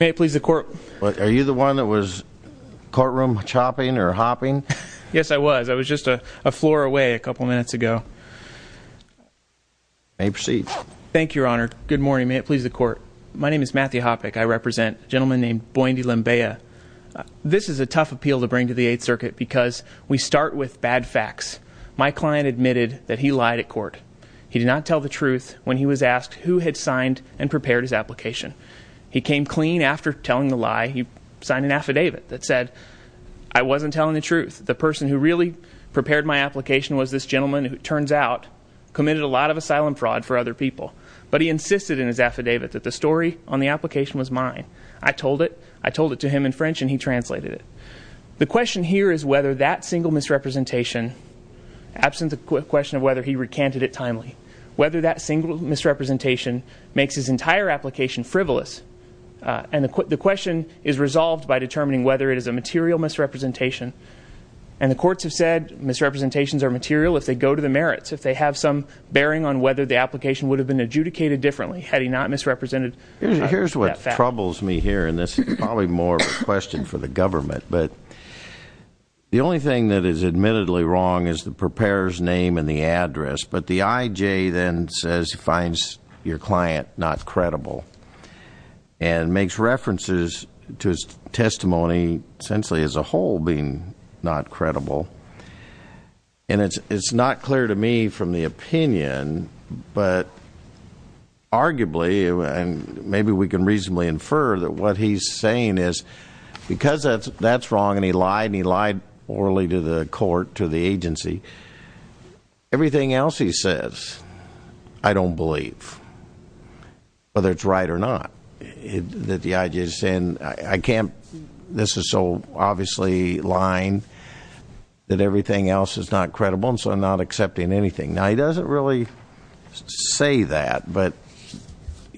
May it please the Court. Are you the one that was courtroom chopping or hopping? Yes, I was. I was just a floor away a couple minutes ago. May you proceed. Thank you, Your Honor. Good morning. May it please the Court. My name is Matthew Hopick. I represent a gentleman named Boendi Limbeya. This is a tough appeal to bring to the Eighth Circuit because we start with bad facts. My client admitted that he lied at court. He did not tell the truth when he was asked who had signed and prepared his application. He came clean after telling the lie. He signed an affidavit that said I wasn't telling the truth. The person who really prepared my application was this gentleman who, it turns out, committed a lot of asylum fraud for other people. But he insisted in his affidavit that the story on the application was mine. I told it. I told it to him in French and he translated it. The question here is whether that single misrepresentation, absent the question of whether he recanted it timely, whether that single misrepresentation makes his entire application frivolous. And the question is resolved by determining whether it is a material misrepresentation. And the courts have said misrepresentations are material if they go to the merits, if they have some bearing on whether the application would have been adjudicated differently had he not misrepresented that fact. Here's what troubles me here, and this is probably more of a question for the government, but the only thing that is admittedly wrong is the preparer's name and the then says he finds your client not credible and makes references to his testimony essentially as a whole being not credible. And it's not clear to me from the opinion, but arguably, and maybe we can reasonably infer that what he's saying is because that's wrong and he lied and he lied orally to the court, to the agency, everything else he says I don't believe, whether it's right or not, that the IG is saying I can't, this is so obviously lying that everything else is not credible and so I'm not accepting anything. Now, he doesn't really say that, but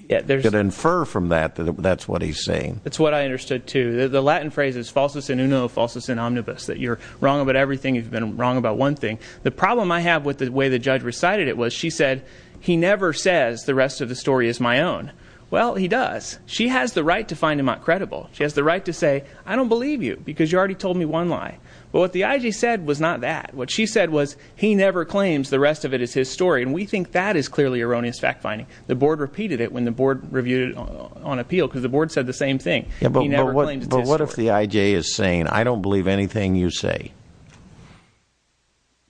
you could infer from that that that's what he's saying. It's what I understood, too. The Latin phrase is falsus in uno, falsus in omnibus, that you're wrong about everything, you've been wrong about one thing. The problem I have with the way the judge recited it was she said he never says the rest of the story is my own. Well, he does. She has the right to find him not credible. She has the right to say I don't believe you because you already told me one lie. But what the IG said was not that. What she said was he never claims the rest of it is his story, and we think that is clearly erroneous fact finding. The board repeated it when the board reviewed it on appeal because the board said the same thing. But what if the IG is saying I don't believe anything you say?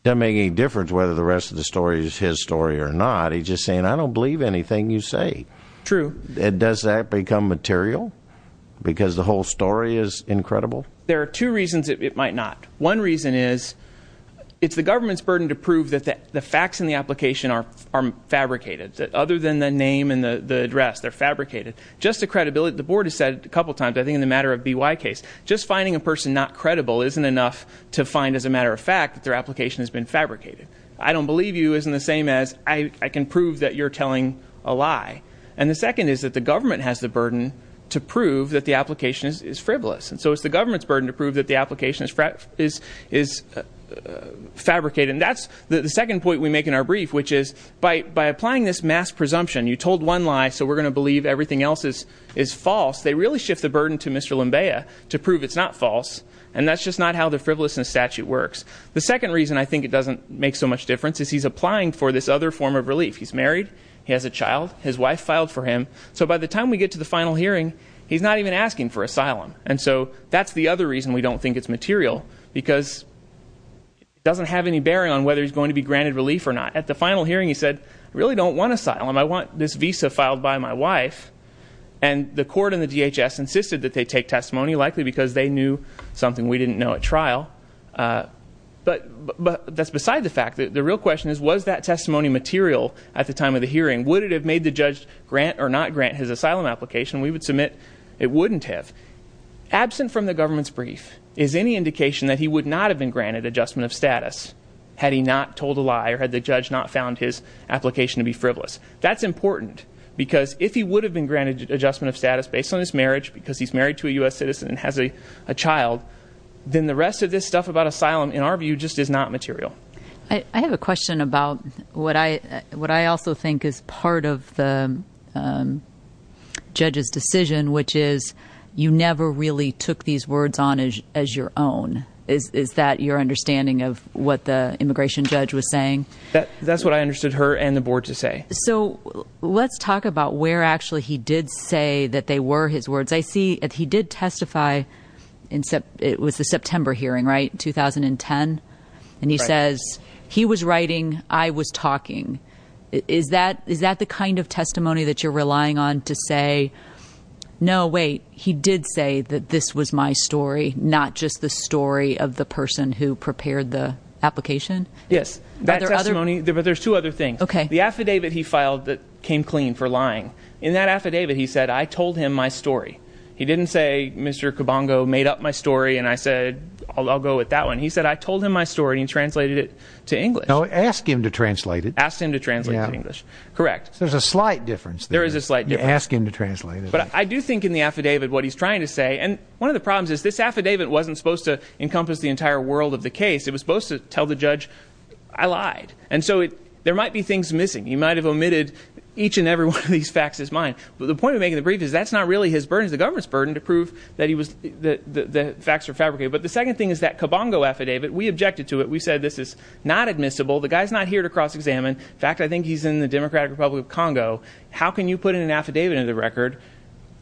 Doesn't make any difference whether the rest of the story is his story or not. He's just saying I don't believe anything you say. True. Does that become material? Because the whole story is incredible? There are two reasons it might not. One reason is it's the government's burden to prove that the facts in the application are fabricated. Just the credibility. The board has said a couple times in the matter of BY case, just finding a person not credible isn't enough to find as a matter of fact that their application has been fabricated. I don't believe you isn't the same as I can prove that you're telling a lie. And the second is that the government has the burden to prove that the application is frivolous. And so it's the government's burden to prove that the application is fabricated. And that's the second point we make in our brief, which is by applying this mass presumption, you told one lie so we're going to believe everything else is false, they really shift the burden to Mr. Lembeya to prove it's not false. And that's just not how the frivolousness statute works. The second reason I think it doesn't make so much difference is he's applying for this other form of relief. He's married. He has a child. His wife filed for him. So by the time we get to the final hearing, he's not even asking for asylum. And so that's the other reason we don't think it's going to be granted relief or not. At the final hearing, he said, I really don't want asylum. I want this visa filed by my wife. And the court and the DHS insisted that they take testimony, likely because they knew something we didn't know at trial. But that's beside the fact that the real question is, was that testimony material at the time of the hearing? Would it have made the judge grant or not grant his asylum application? We would submit it wouldn't have. Absent from the government's brief is any indication that he would not have been granted adjustment of status had he not told a lie or had the judge not found his application to be frivolous. That's important, because if he would have been granted adjustment of status based on his marriage, because he's married to a U.S. citizen and has a child, then the rest of this stuff about asylum, in our view, just is not material. I have a question about what I what I also think is part of the judge's decision, which is you never really took these words on as your own. Is that your understanding of what the immigration judge was saying? That's what I understood her and the board to say. So let's talk about where actually he did say that they were his words. I see that he did testify in September. It was the September hearing, right? 2010. And he says he was writing. I was talking. Is that is that the kind of testimony that you're relying on to say, no, wait, he did say that this was my story, not just the story of the person who prepared the application? Yes, that testimony. But there's two other things. OK, the affidavit he filed that came clean for lying in that affidavit. He said, I told him my story. He didn't say Mr. Cabongo made up my story. And I said, I'll go with that one. He said, I told him my story and translated it to English. Ask him to translate it. Ask him to translate English. Correct. There's a slight difference. There is a slight ask him to translate. But I do think in the affidavit what he's trying to say. And one of the problems is this affidavit wasn't supposed to encompass the entire world of the case. It was supposed to tell the judge I lied. And so there might be things missing. You might have omitted each and every one of these facts is mine. But the point of making the brief is that's not really his burden. The government's burden to prove that he was the facts are fabricated. But the second thing is that Cabongo affidavit. We objected to it. We said this is not admissible. The guy's not here to cross examine. In fact, I think he's in the Democratic Republic of Congo. How can you put in an affidavit of the record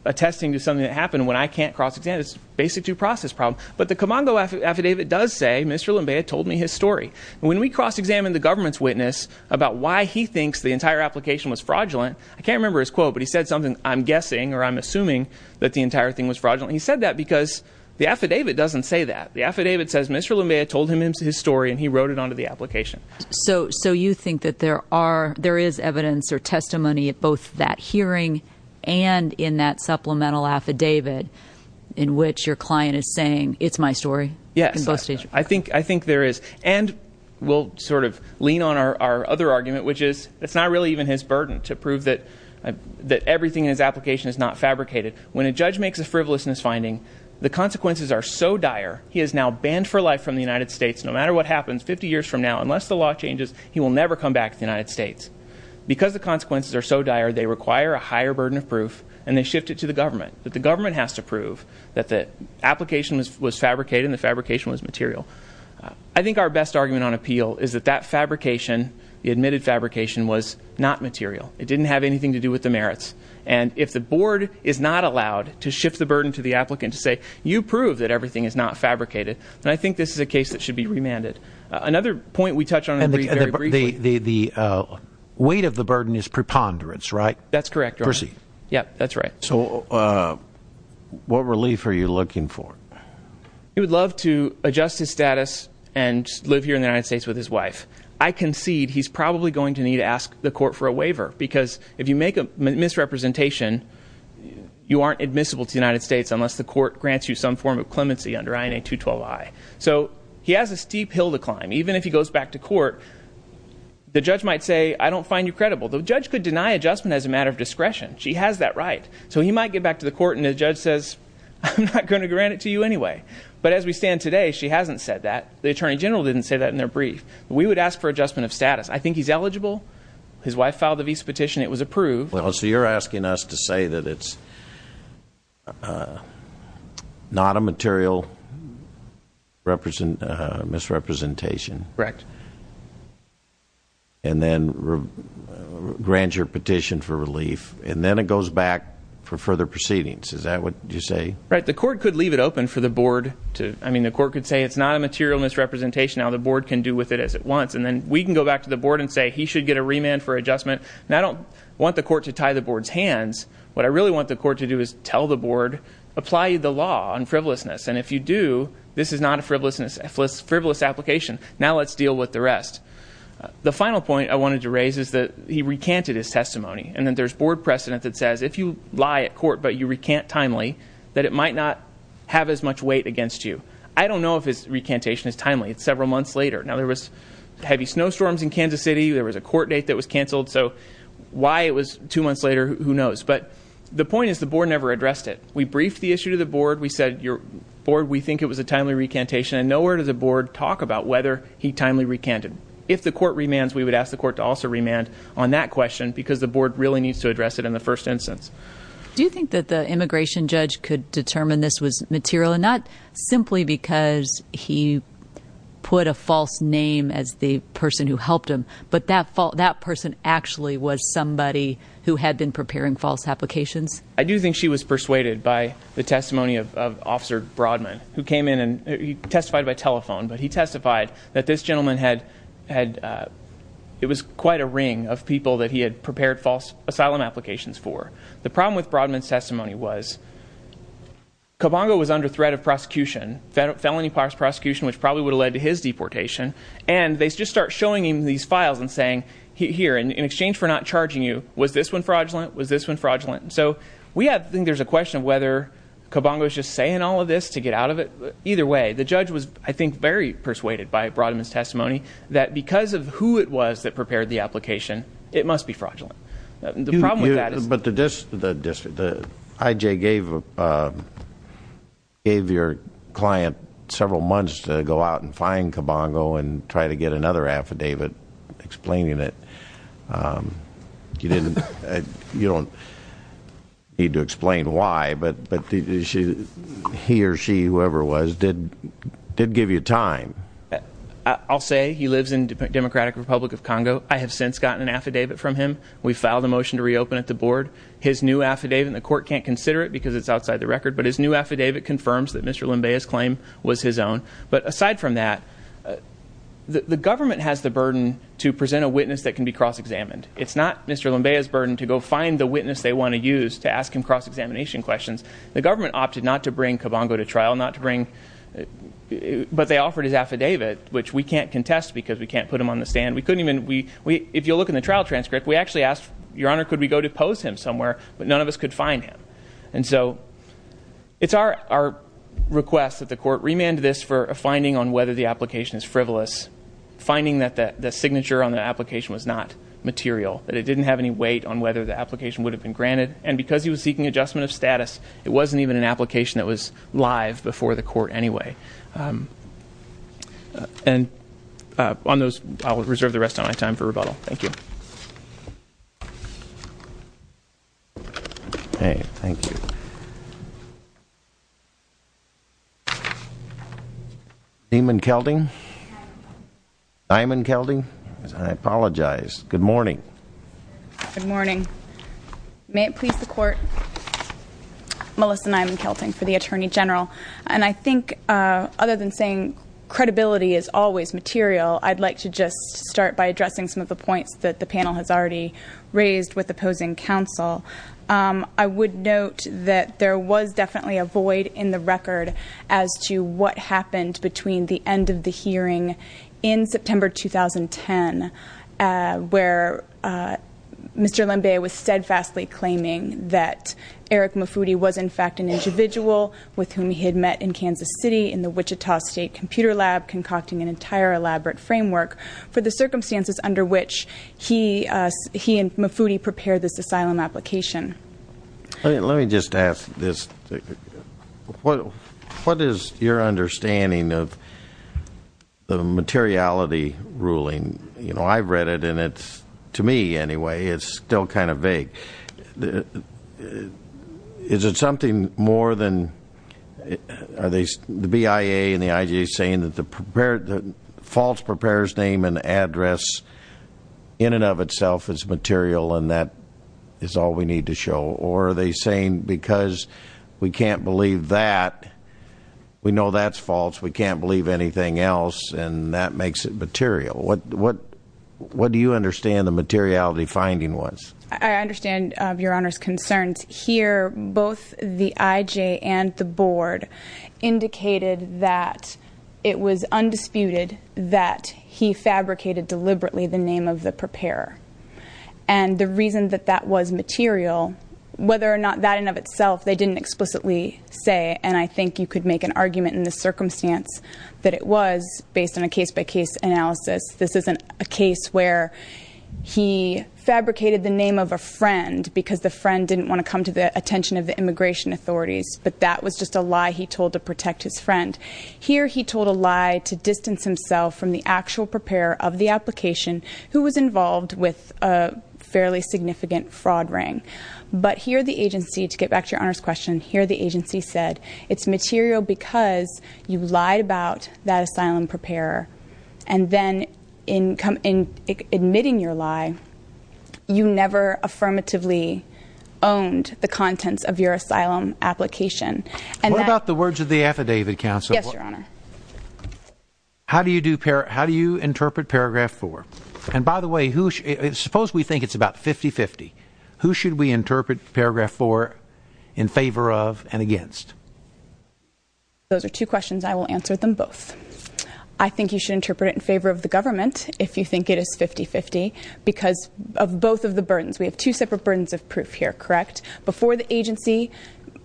attesting to something that happened when I can't cross examine? It's a basic due process problem. But the Cabongo affidavit does say Mr. Lembeya told me his story. When we cross examined the government's witness about why he thinks the entire application was fraudulent. I can't remember his quote, but he said something I'm guessing or I'm assuming that the entire thing was fraudulent. He said that because the affidavit doesn't say that. The affidavit says Mr. Lembeya told him his story and he wrote it onto the application. So you think that there is evidence or testimony at both that hearing and in that supplemental affidavit in which your client is saying it's my story? Yes. I think there is. And we'll sort of lean on our other argument, which is it's not really even his burden to prove that everything in his application is not fabricated. When a judge makes a frivolousness finding, the consequences are so dire, he is now banned for life from the United States. No matter what happens 50 years from now, unless the law changes, he will never come back to the United States. Because the consequences are so dire, they require a higher burden of proof and they shift it to the government. But the government has to prove that the application was fabricated and the fabrication was material. I think our best argument on appeal is that that fabrication, the admitted fabrication, was not material. It didn't have anything to do with the merits. And if the board is not allowed to shift the burden to the government, then this is a case that should be remanded. Another point we touched on very briefly. The weight of the burden is preponderance, right? That's correct. Proceed. Yeah, that's right. So what relief are you looking for? He would love to adjust his status and live here in the United States with his wife. I concede he's probably going to need to ask the court for a waiver, because if you make a misrepresentation, you aren't admissible to the United States unless the court grants you some form of clemency under INA 212I. So he has a steep hill to climb. Even if he goes back to court, the judge might say, I don't find you credible. The judge could deny adjustment as a matter of discretion. She has that right. So he might get back to the court and the judge says, I'm not going to grant it to you anyway. But as we stand today, she hasn't said that. The attorney general didn't say that in their brief. We would ask for adjustment of status. I think he's eligible. His wife filed the visa petition. It was approved. Well, so you're asking us to say that it's not a material misrepresentation. Correct. And then grant your petition for relief. And then it goes back for further proceedings. Is that what you say? Right. The court could leave it open for the board to, I mean, the court could say it's not a material misrepresentation. Now the board can do with it as it wants. And then we can go back to the board and say he should get a remand for adjustment. And I don't want the court to tie the board's hands. What I really want the court to do is tell the board, apply the law on frivolousness. And if you do, this is not a frivolous application. Now let's deal with the rest. The final point I wanted to raise is that he recanted his testimony. And then there's board precedent that says if you lie at court, but you recant timely, that it might not have as much weight against you. I don't know if his recantation is timely. It's several months later. Now there was heavy snowstorms in Kansas City. There was a court date that was canceled. So why it was two months later, who knows. But the point is the board never addressed it. We briefed the issue to the board. We said, your board, we think it was a timely recantation. And nowhere does the board talk about whether he timely recanted. If the court remands, we would ask the court to also remand on that question because the board really needs to address it in the first instance. Do you think that the immigration judge could determine this was material and not simply because he put a false name as the person who helped him, but that person actually was somebody who had been preparing false applications? I do think she was persuaded by the testimony of Officer Broadman, who came in and he testified by telephone, but he testified that this gentleman had, it was quite a ring of people that he had prepared false asylum applications for. The problem with Broadman's testimony was, Cobongo was under threat of prosecution, felony prosecution, which probably would have led to his deportation. And they just start showing him these files and saying, here, in exchange for not charging you, was this one fraudulent? Was this one fraudulent? So we have, I think there's a question of whether Cobongo's just saying all of this to get out of it. Either way, the judge was, I think, very persuaded by Broadman's testimony that because of who it was that prepared the application, it must be fraudulent. The problem with that is- But the district, the IJ gave your client several months to go out and find Cobongo and try to get another affidavit explaining it. You don't need to explain why, but he or she, whoever it was, did give you time. I'll say he lives in Democratic Republic of Congo. I have since gotten an affidavit from him. We've filed a motion to reopen at the board. His new affidavit, and the court can't consider it because it's outside the record, but his new affidavit confirms that Mr. Limbea's claim was his own. But aside from that, the government has the burden to present a witness that can be cross-examined. It's not Mr. Limbea's burden to go find the witness they want to use to ask him cross-examination questions. The government opted not to bring Cobongo to trial, not to bring, but they offered his affidavit, which we can't contest because we can't put him on the stand. If you'll look in the trial transcript, we actually asked, Your Honor, could we go to pose him somewhere, but none of us could find him. And so it's our request that the court remand this for a finding on whether the application is frivolous, finding that the signature on the application was not material, that it didn't have any weight on whether the application would have been granted. And because he was seeking adjustment of status, it wasn't even an application that was rebuttal. Thank you. Okay. Thank you. Nieman-Kelting? Nieman-Kelting? I apologize. Good morning. Good morning. May it please the court. Melissa Nieman-Kelting for the Attorney General. And I think other than saying credibility is always material, I'd like to just start by addressing some of the points that the panel has already raised with opposing counsel. I would note that there was definitely a void in the record as to what happened between the end of the hearing in September 2010, where Mr. Lembe was steadfastly claiming that Eric Mufudi was in fact an individual with whom he had met in Kansas City in the Wichita State Computer Lab, concocting an entire elaborate framework for the circumstances under which he and Mufudi prepared this asylum application. Let me just ask this. What is your understanding of the materiality ruling? You know, I've read it and it's, to me anyway, it's still kind of vague. The, is it something more than, are they, the BIA and the IJ saying that the prepared, the false preparer's name and address in and of itself is material and that is all we need to show? Or are they saying because we can't believe that, we know that's false, we can't believe anything else and that makes it material? What, what, what do you understand the materiality finding was? I understand your honor's concerns. Here, both the IJ and the board indicated that it was undisputed that he fabricated deliberately the name of the preparer. And the reason that that was material, whether or not that in of itself, they didn't explicitly say, and I think you could make an argument in this circumstance, that it was based on a case-by-case analysis. This isn't a case where he fabricated the name of a friend because the friend didn't want to come to the attention of the immigration authorities. But that was just a lie he told to protect his friend. Here he told a lie to distance himself from the actual preparer of the application who was involved with a fairly significant fraud ring. But here the agency, to get back to your honor's question, here the agency said it's material because you lied about that asylum preparer. And then in, in admitting your lie, you never affirmatively owned the contents of your asylum application. What about the words of the affidavit counsel? Yes, your honor. How do you do, how do you interpret paragraph four? And by the way, who, suppose we think it's about 50-50. Who should we interpret paragraph four in favor of and against? Those are two questions. I will answer them both. I think you should interpret it in favor of the government if you think it is 50-50 because of both of the burdens. We have two separate burdens of proof here, correct? Before the agency,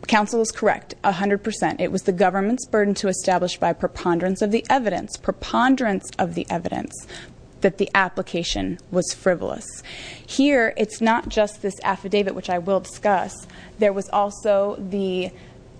counsel is correct. A hundred percent. It was the government's burden to establish by preponderance of the evidence, preponderance of the evidence that the application was frivolous. Here, it's not just this affidavit, which I will discuss. There was also the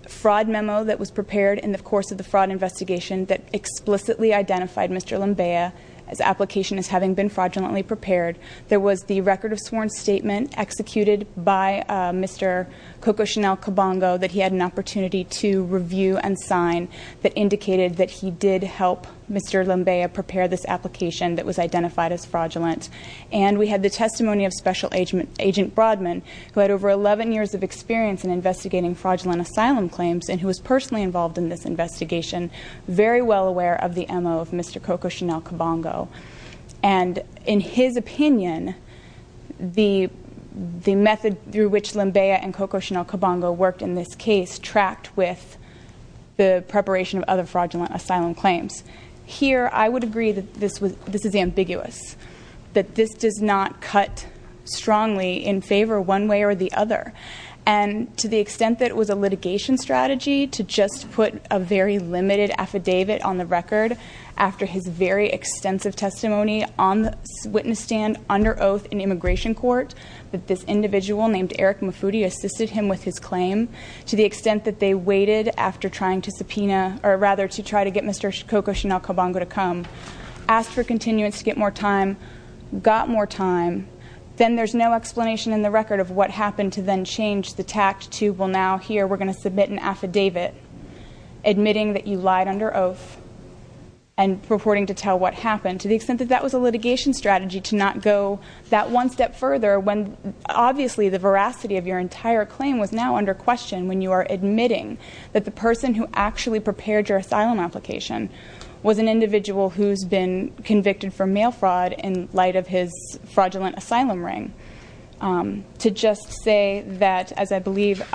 fraud memo that was prepared in the course of the fraud investigation that explicitly identified Mr. Lambea as application as having been fraudulently prepared. There was the record of sworn statement executed by Mr. Coco Chanel Cabongo that he had an opportunity to review and sign that indicated that he did help Mr. Lambea prepare this application that was identified as fraudulent. And we had the testimony of special agent agent Broadman, who had over 11 years of experience in investigating fraudulent asylum claims and who was personally involved in this investigation, very well aware of the MO of Mr. Coco Chanel Cabongo. And in his opinion, the method through which Lambea and Coco Chanel Cabongo worked in this case tracked with the preparation of other fraudulent asylum claims. Here, I would agree that this is ambiguous, that this does not cut strongly in favor one way or the other. And to the extent that it was a litigation strategy to just put a very limited affidavit on the record after his very extensive testimony on the witness stand under oath in immigration court, that this individual named Eric Mufudi assisted him with his claim to the extent that they waited after trying to subpoena, or rather to try to get Mr. Coco Chanel Cabongo to come, asked for continuance to get more time, got more time, then there's no explanation in the record of what happened to then change the tact to, well now here we're going to submit an affidavit admitting that you lied under oath and purporting to tell what happened. To the extent that that was a litigation strategy to not go that one step further when obviously the veracity of your entire claim was now under question when you are admitting that the person who actually prepared your asylum application was an individual who's been convicted for mail fraud in light of his fraudulent asylum ring. To just say that, as I believe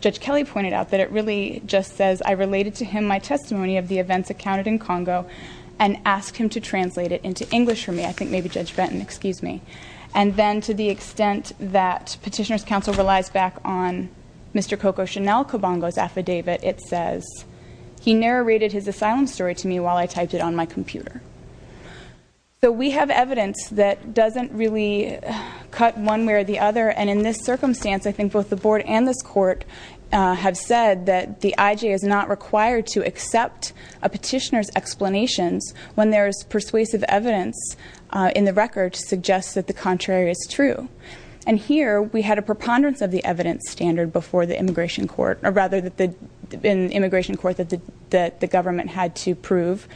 Judge Kelly pointed out, that it really just says I related to him my testimony of the events accounted in Congo and asked him to translate it into English for me, I think maybe Judge Benton, excuse me. And then to the extent that Petitioner's Counsel relies back on Mr. Coco Chanel Cabongo's affidavit, it says he narrated his asylum story to me while I typed it on my computer. So we have evidence that doesn't really cut one way or the other and in this circumstance I think both the board and this court have said that the IJ is not required to accept a petitioner's explanations when there's persuasive evidence in the record to suggest that the contrary is true. And here we had a preponderance of the evidence standard before the immigration court or rather that the immigration court that the government had to prove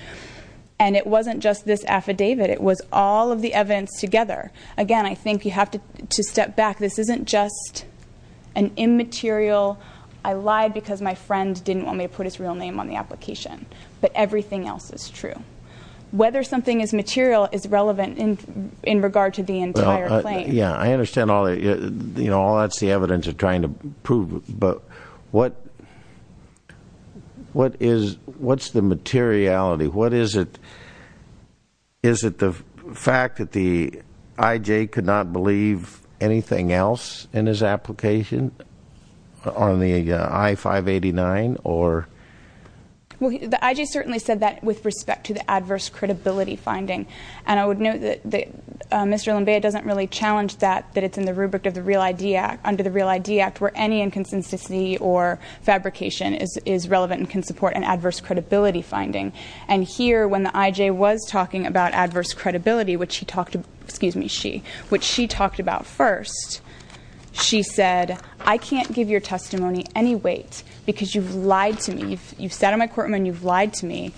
and it wasn't just this affidavit, it was all of the evidence together. Again, I think you have to step back. This isn't just an immaterial, I lied because my friend didn't want me to put his real name on the application, but everything else is true. Whether something is material is relevant in regard to the entire claim. Yeah, I understand all the, you know, all that's the evidence of trying to prove, but what, what is, what's the materiality? What is it, is it the fact that the IJ could not believe anything else in his application on the I-589 or? Well, the IJ certainly said that with respect to the adverse credibility finding and I would note that Mr. Lumbea doesn't really challenge that, that it's in the rubric of the Real ID Act, under the Real ID Act where any inconsistency or fabrication is relevant and can support an adverse credibility finding. And here when the IJ was talking about adverse credibility, which he talked to, excuse me, she, which she talked about first, she said, I can't give your testimony any weight because you've lied to me. You've sat on my the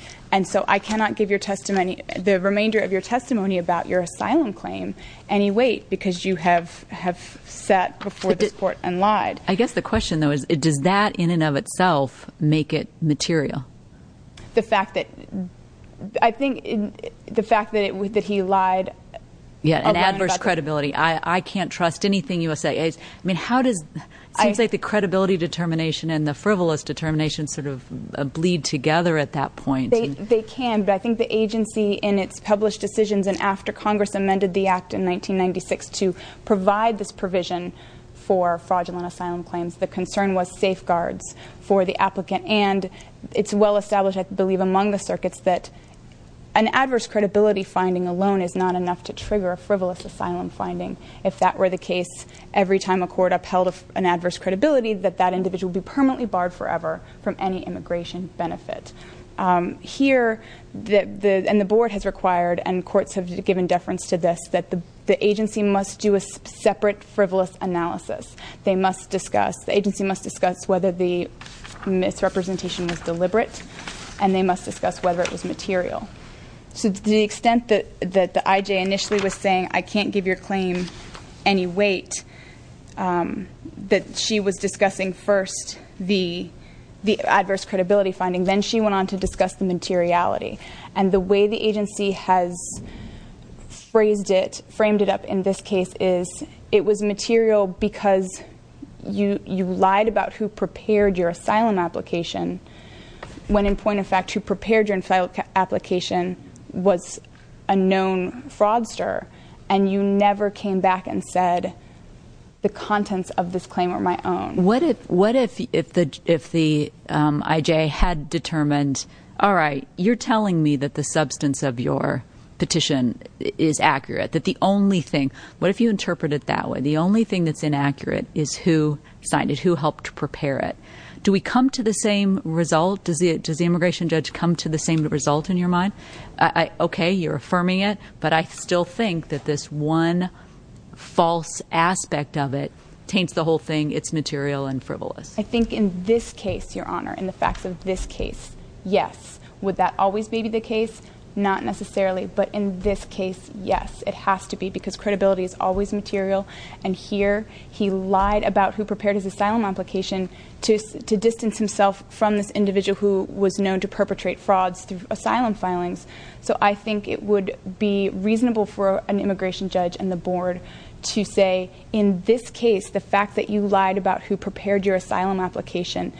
remainder of your testimony about your asylum claim any weight because you have, have sat before this court and lied. I guess the question though is, does that in and of itself make it material? The fact that, I think the fact that it was, that he lied. Yeah, an adverse credibility. I can't trust anything you will say. I mean, how does, it seems like the credibility determination and the frivolous determination sort of bleed together at that point. They can, but I think the agency in its published decisions and after Congress amended the act in 1996 to provide this provision for fraudulent asylum claims, the concern was safeguards for the applicant and it's well established, I believe, among the circuits that an adverse credibility finding alone is not enough to trigger a frivolous asylum finding. If that were the case, every time a court upheld an adverse credibility, that that individual would be permanently barred forever from any immigration benefit. Here, and the board has required and courts have given deference to this, that the agency must do a separate frivolous analysis. They must discuss, the agency must discuss whether the misrepresentation was deliberate and they must discuss whether it was material. So to the extent that the IJ initially was saying, I can't give your claim any weight, um, that she was discussing first the, the adverse credibility finding. Then she went on to discuss the materiality and the way the agency has phrased it, framed it up in this case is it was material because you, you lied about who prepared your asylum application. When in point of fact, who prepared your application was a known fraudster and you came back and said the contents of this claim are my own. What if, what if, if the, if the, um, IJ had determined, all right, you're telling me that the substance of your petition is accurate. That the only thing, what if you interpret it that way? The only thing that's inaccurate is who signed it, who helped prepare it. Do we come to the same result? Does the, does the immigration judge come to the same result in your mind? Okay. You're affirming it, but I still think that this one false aspect of it taints the whole thing. It's material and frivolous. I think in this case, your honor, in the facts of this case, yes. Would that always be the case? Not necessarily, but in this case, yes, it has to be because credibility is always material. And here he lied about who prepared his asylum application to, to distance himself from this So I think it would be reasonable for an immigration judge and the board to say, in this case, the fact that you lied about who prepared your asylum application,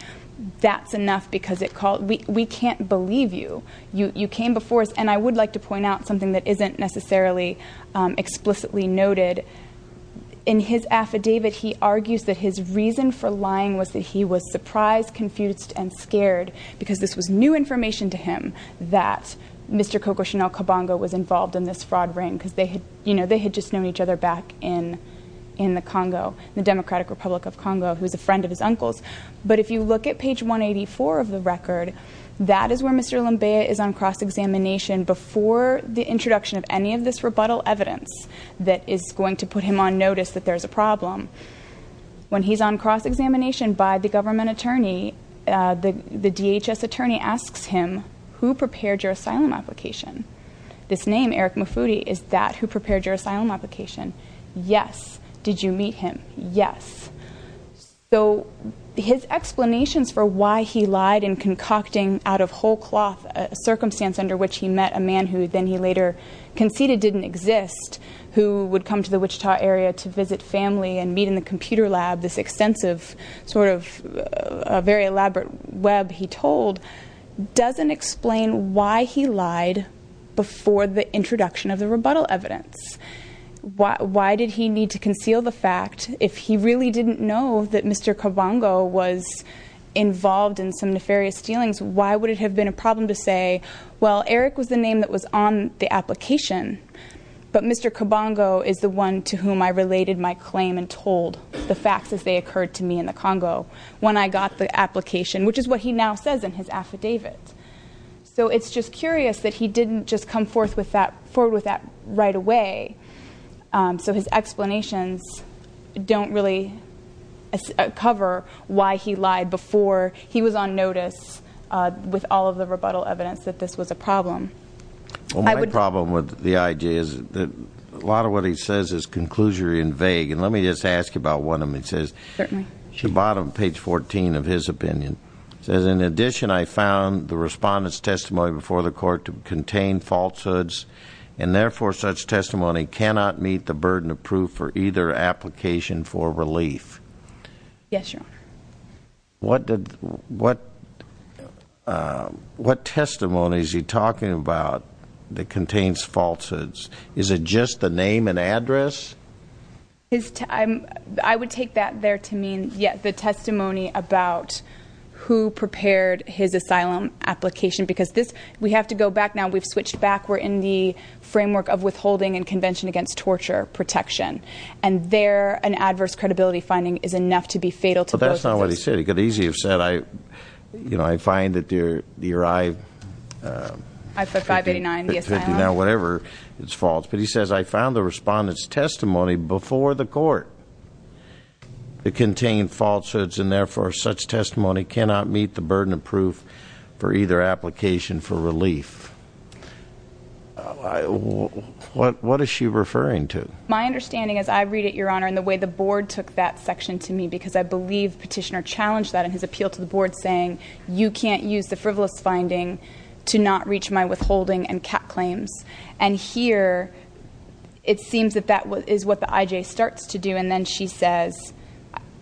that's enough because it called, we, we can't believe you, you, you came before us. And I would like to point out something that isn't necessarily, um, explicitly noted in his affidavit. He argues that his reason for lying was that he was surprised, confused, and scared because this was new information to him that Mr. Coco Chanel Cabongo was involved in this fraud ring because they had, you know, they had just known each other back in, in the Congo, the Democratic Republic of Congo, who was a friend of his uncle's. But if you look at page 184 of the record, that is where Mr. Lembeya is on cross-examination before the introduction of any of this rebuttal evidence that is going to put him on notice that there's a DHS attorney asks him, who prepared your asylum application? This name, Eric Mufudi, is that who prepared your asylum application? Yes. Did you meet him? Yes. So his explanations for why he lied and concocting out of whole cloth a circumstance under which he met a man who then he later conceded didn't exist, who would come to the Wichita area to visit family and meet in the doesn't explain why he lied before the introduction of the rebuttal evidence. Why did he need to conceal the fact if he really didn't know that Mr. Cabongo was involved in some nefarious dealings? Why would it have been a problem to say, well, Eric was the name that was on the application, but Mr. Cabongo is the one to whom I related my claim and told the facts as they occurred to me in the Congo when I got the affidavit. So it's just curious that he didn't just come forward with that right away. So his explanations don't really cover why he lied before he was on notice with all of the rebuttal evidence that this was a problem. My problem with the IJ is that a lot of what he says is conclusory and vague. And let me just ask you about one of them. It says at the bottom, page 14 of his opinion, says, in addition, I found the respondent's testimony before the court to contain falsehoods and therefore such testimony cannot meet the burden of proof for either application for relief. Yes, Your Honor. What did, what, what testimony is he talking about that contains falsehoods? Is it just the name and address? I would take that there to mean, yeah, the testimony about who prepared his asylum application, because this, we have to go back now. We've switched back. We're in the framework of withholding and convention against torture protection. And there, an adverse credibility finding is enough to be fatal. But that's not what he said. He could easily have said, I, you know, I find that your, your I. I-589, the asylum. Whatever is false. But he says, I found the respondent's testimony before the court to contain falsehoods and therefore such testimony cannot meet the burden of proof for either application for relief. What, what is she referring to? My understanding as I read it, Your Honor, and the way the board took that section to me, because I believe petitioner challenged that in his appeal to the board saying, you can't use the frivolous finding to not reach my withholding and cap claims. And here, it seems that that is what the IJ starts to do. And then she says,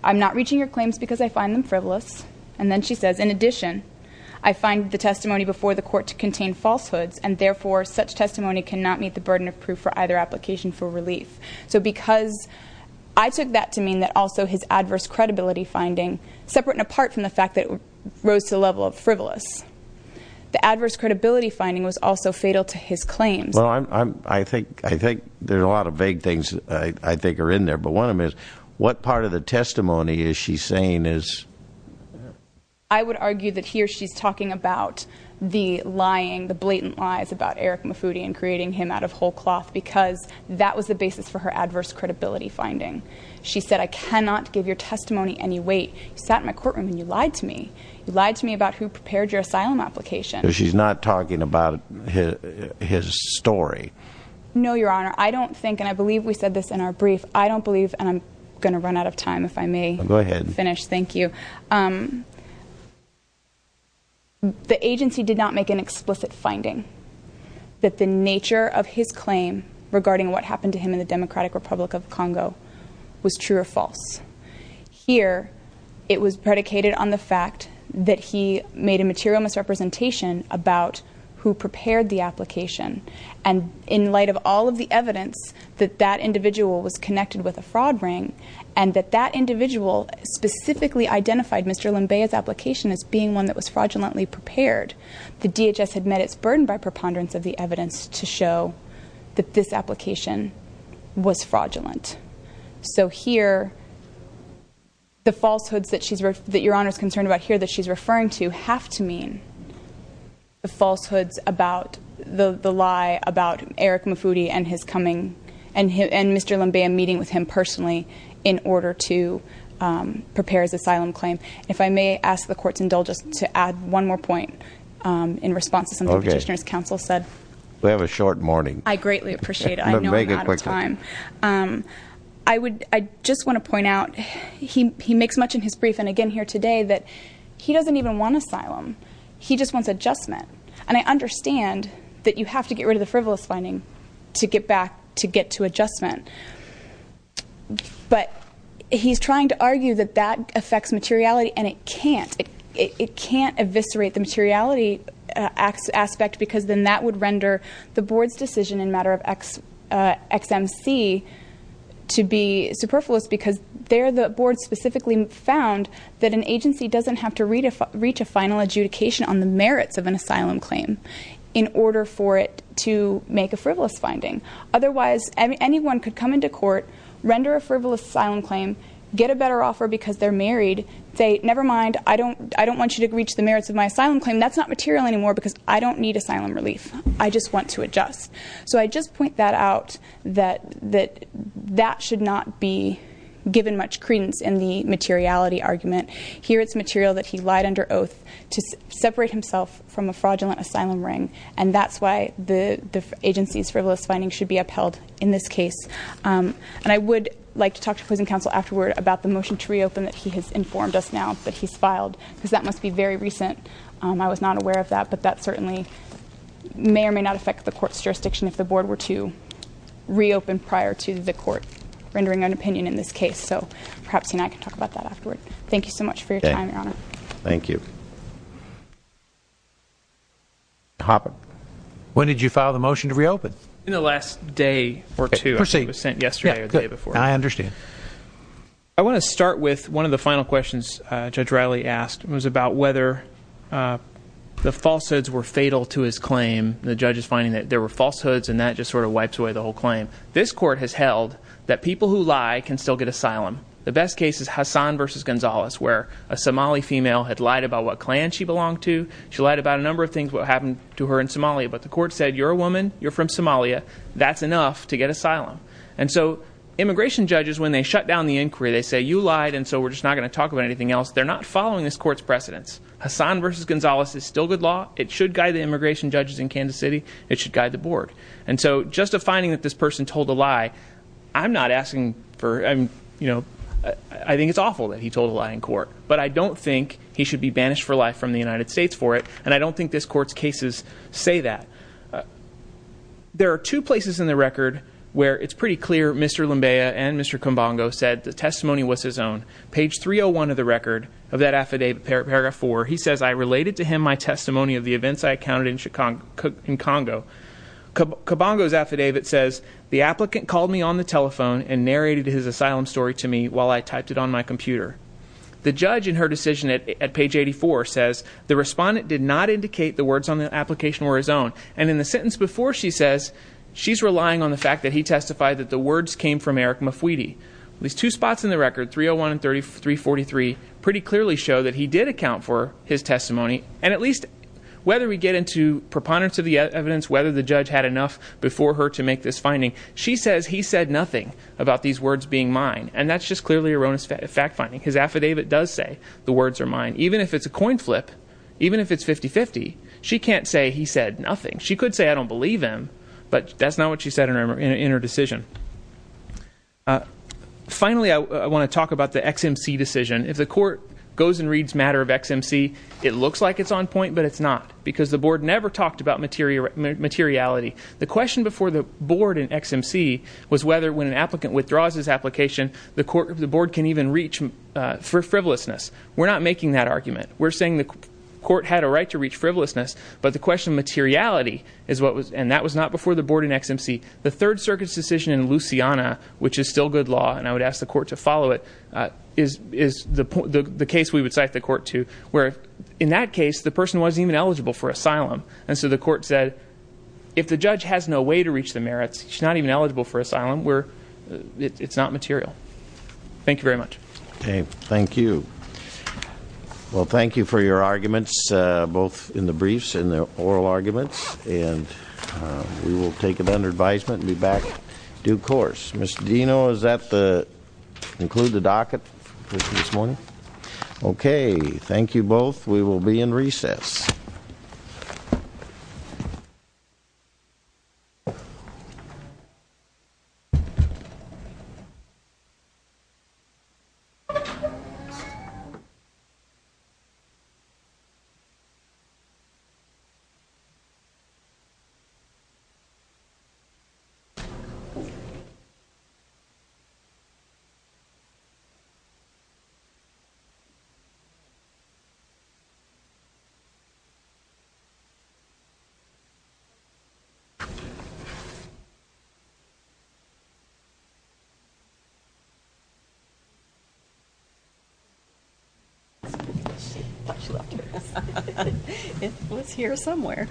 I'm not reaching your claims because I find them frivolous. And then she says, in addition, I find the testimony before the court to contain falsehoods and therefore such testimony cannot meet the burden of proof for either application for relief. So because I took that to mean that also his adverse credibility finding, separate and apart from the fact that it rose to the level of frivolous. The adverse credibility finding was also fatal to his claims. Well, I'm, I'm, I think, I think there's a lot of vague things I think are in there, but one of them is what part of the testimony is she saying is? I would argue that here she's talking about the lying, the blatant lies about Eric Mufudi and creating him out of whole cloth because that was the basis for her adverse credibility finding. She said, I cannot give your testimony any weight. You sat in my courtroom and you lied to me. You lied to me about who prepared your asylum application. She's not talking about his story. No, your honor. I don't think, and I believe we said this in our brief. I don't believe, and I'm going to run out of time if I may finish. Thank you. The agency did not make an explicit finding that the nature of his claim regarding what happened to him in the Democratic Republic of Congo was true or false. Here it was predicated on the fact that he made a material misrepresentation about who prepared the application. And in light of all of the evidence that that individual was connected with a fraud ring and that that individual specifically identified Mr. Limbeya's application as being one that was fraudulently prepared, the DHS had met its burden by preponderance of the evidence to show that this application was fraudulent. So here, the falsehoods that your honor is concerned about here that she's referring to have to mean the falsehoods about the lie about Eric Mufudi and his coming and Mr. Limbeya meeting with him personally in order to prepare his asylum claim. If I may ask the court to indulge us to add one more point in response to something the petitioner's counsel said. We have a short morning. I greatly appreciate it. I know I'm out of time. I would I just want to point out he makes much in his brief and again here today that he doesn't even want asylum. He just wants adjustment. And I understand that you have to get rid of the frivolous finding to get back to get to adjustment. But he's trying to argue that that affects materiality and it can't. It can't eviscerate the materiality aspect because then that would render the board's decision in matter of XMC to be superfluous because they're the board specifically found that an agency doesn't have to read if reach a final adjudication on the merits of an asylum claim in order for it to make a frivolous finding. Otherwise, anyone could come into court, render a frivolous asylum claim, get a better offer because they're married. They never mind. I don't I don't want you to reach the merits of my asylum claim. That's not material anymore because I don't need asylum relief. I just want to adjust. So I just point that out that that that should not be given much credence in the materiality argument here. It's material that he lied under oath to separate himself from a fraudulent asylum ring. And that's why the agency's frivolous findings should be upheld in this case. And I would like to talk to closing counsel afterward about the motion to reopen that he has informed us now that he's filed because that must be very recent. I was not aware of that, but that certainly may or may not affect the court's jurisdiction if the board were to reopen prior to the court rendering an opinion in this case. So perhaps he and I can talk about that afterward. Thank you so much for your time, Your Honor. Thank you. When did you file the motion to reopen? In the last day or two. It was sent yesterday or the day before. I understand. I want to start with one of the final questions Judge Riley asked. It was about whether the falsehoods were fatal to his claim. The judge is finding that there were falsehoods, and that just sort of wipes away the whole claim. This court has held that people who lie can still get asylum. The best case is Hassan versus Gonzalez, where a Somali female had lied about what clan she belonged to. She lied about a number of things, what happened to her in Somalia. But the court said, you're a woman. You're from Somalia. That's enough to get asylum. And so immigration judges, when they shut down the inquiry, they say, you lied, and so we're just not going to talk about anything else. They're not following this court's precedence. Hassan versus Gonzalez is still good law. It should guide the immigration judges in Kansas City. It should guide the board. And so just a finding that this person told a lie, I'm not asking for, I think it's awful that he told a lie in court. But I don't think he should be banished for life from the United States for it. And I don't think this court's cases say that. There are two places in the record where it's pretty clear Mr. Lambea and Mr. Page 301 of the record of that affidavit, paragraph four. He says, I related to him my testimony of the events I accounted in Congo. Cobongo's affidavit says, the applicant called me on the telephone and narrated his asylum story to me while I typed it on my computer. The judge in her decision at page 84 says, the respondent did not indicate the words on the application were his own. And in the sentence before, she says, she's relying on the fact that he testified that the words came from Eric Mafuidi. These two spots in the record, 301 and 343, pretty clearly show that he did account for his testimony. And at least, whether we get into preponderance of the evidence, whether the judge had enough before her to make this finding. She says he said nothing about these words being mine, and that's just clearly erroneous fact finding. His affidavit does say the words are mine. Even if it's a coin flip, even if it's 50-50, she can't say he said nothing. She could say I don't believe him, but that's not what she said in her decision. Finally, I want to talk about the XMC decision. If the court goes and reads matter of XMC, it looks like it's on point, but it's not. Because the board never talked about materiality. The question before the board in XMC was whether when an applicant withdraws his application, the board can even reach for frivolousness. We're not making that argument. We're saying the court had a right to reach frivolousness, but the question of materiality, and that was not before the board in XMC. The Third Circuit's decision in Luciana, which is still good law, and I would ask the court to follow it, is the case we would cite the court to, where in that case, the person wasn't even eligible for asylum. And so the court said, if the judge has no way to reach the merits, he's not even eligible for asylum, it's not material. Thank you very much. Okay, thank you. Well, thank you for your arguments, both in the briefs and the oral arguments. And we will take it under advisement and be back due course. Mr. Dino, is that the, include the docket this morning? Okay, thank you both. We will be in recess. It was here somewhere.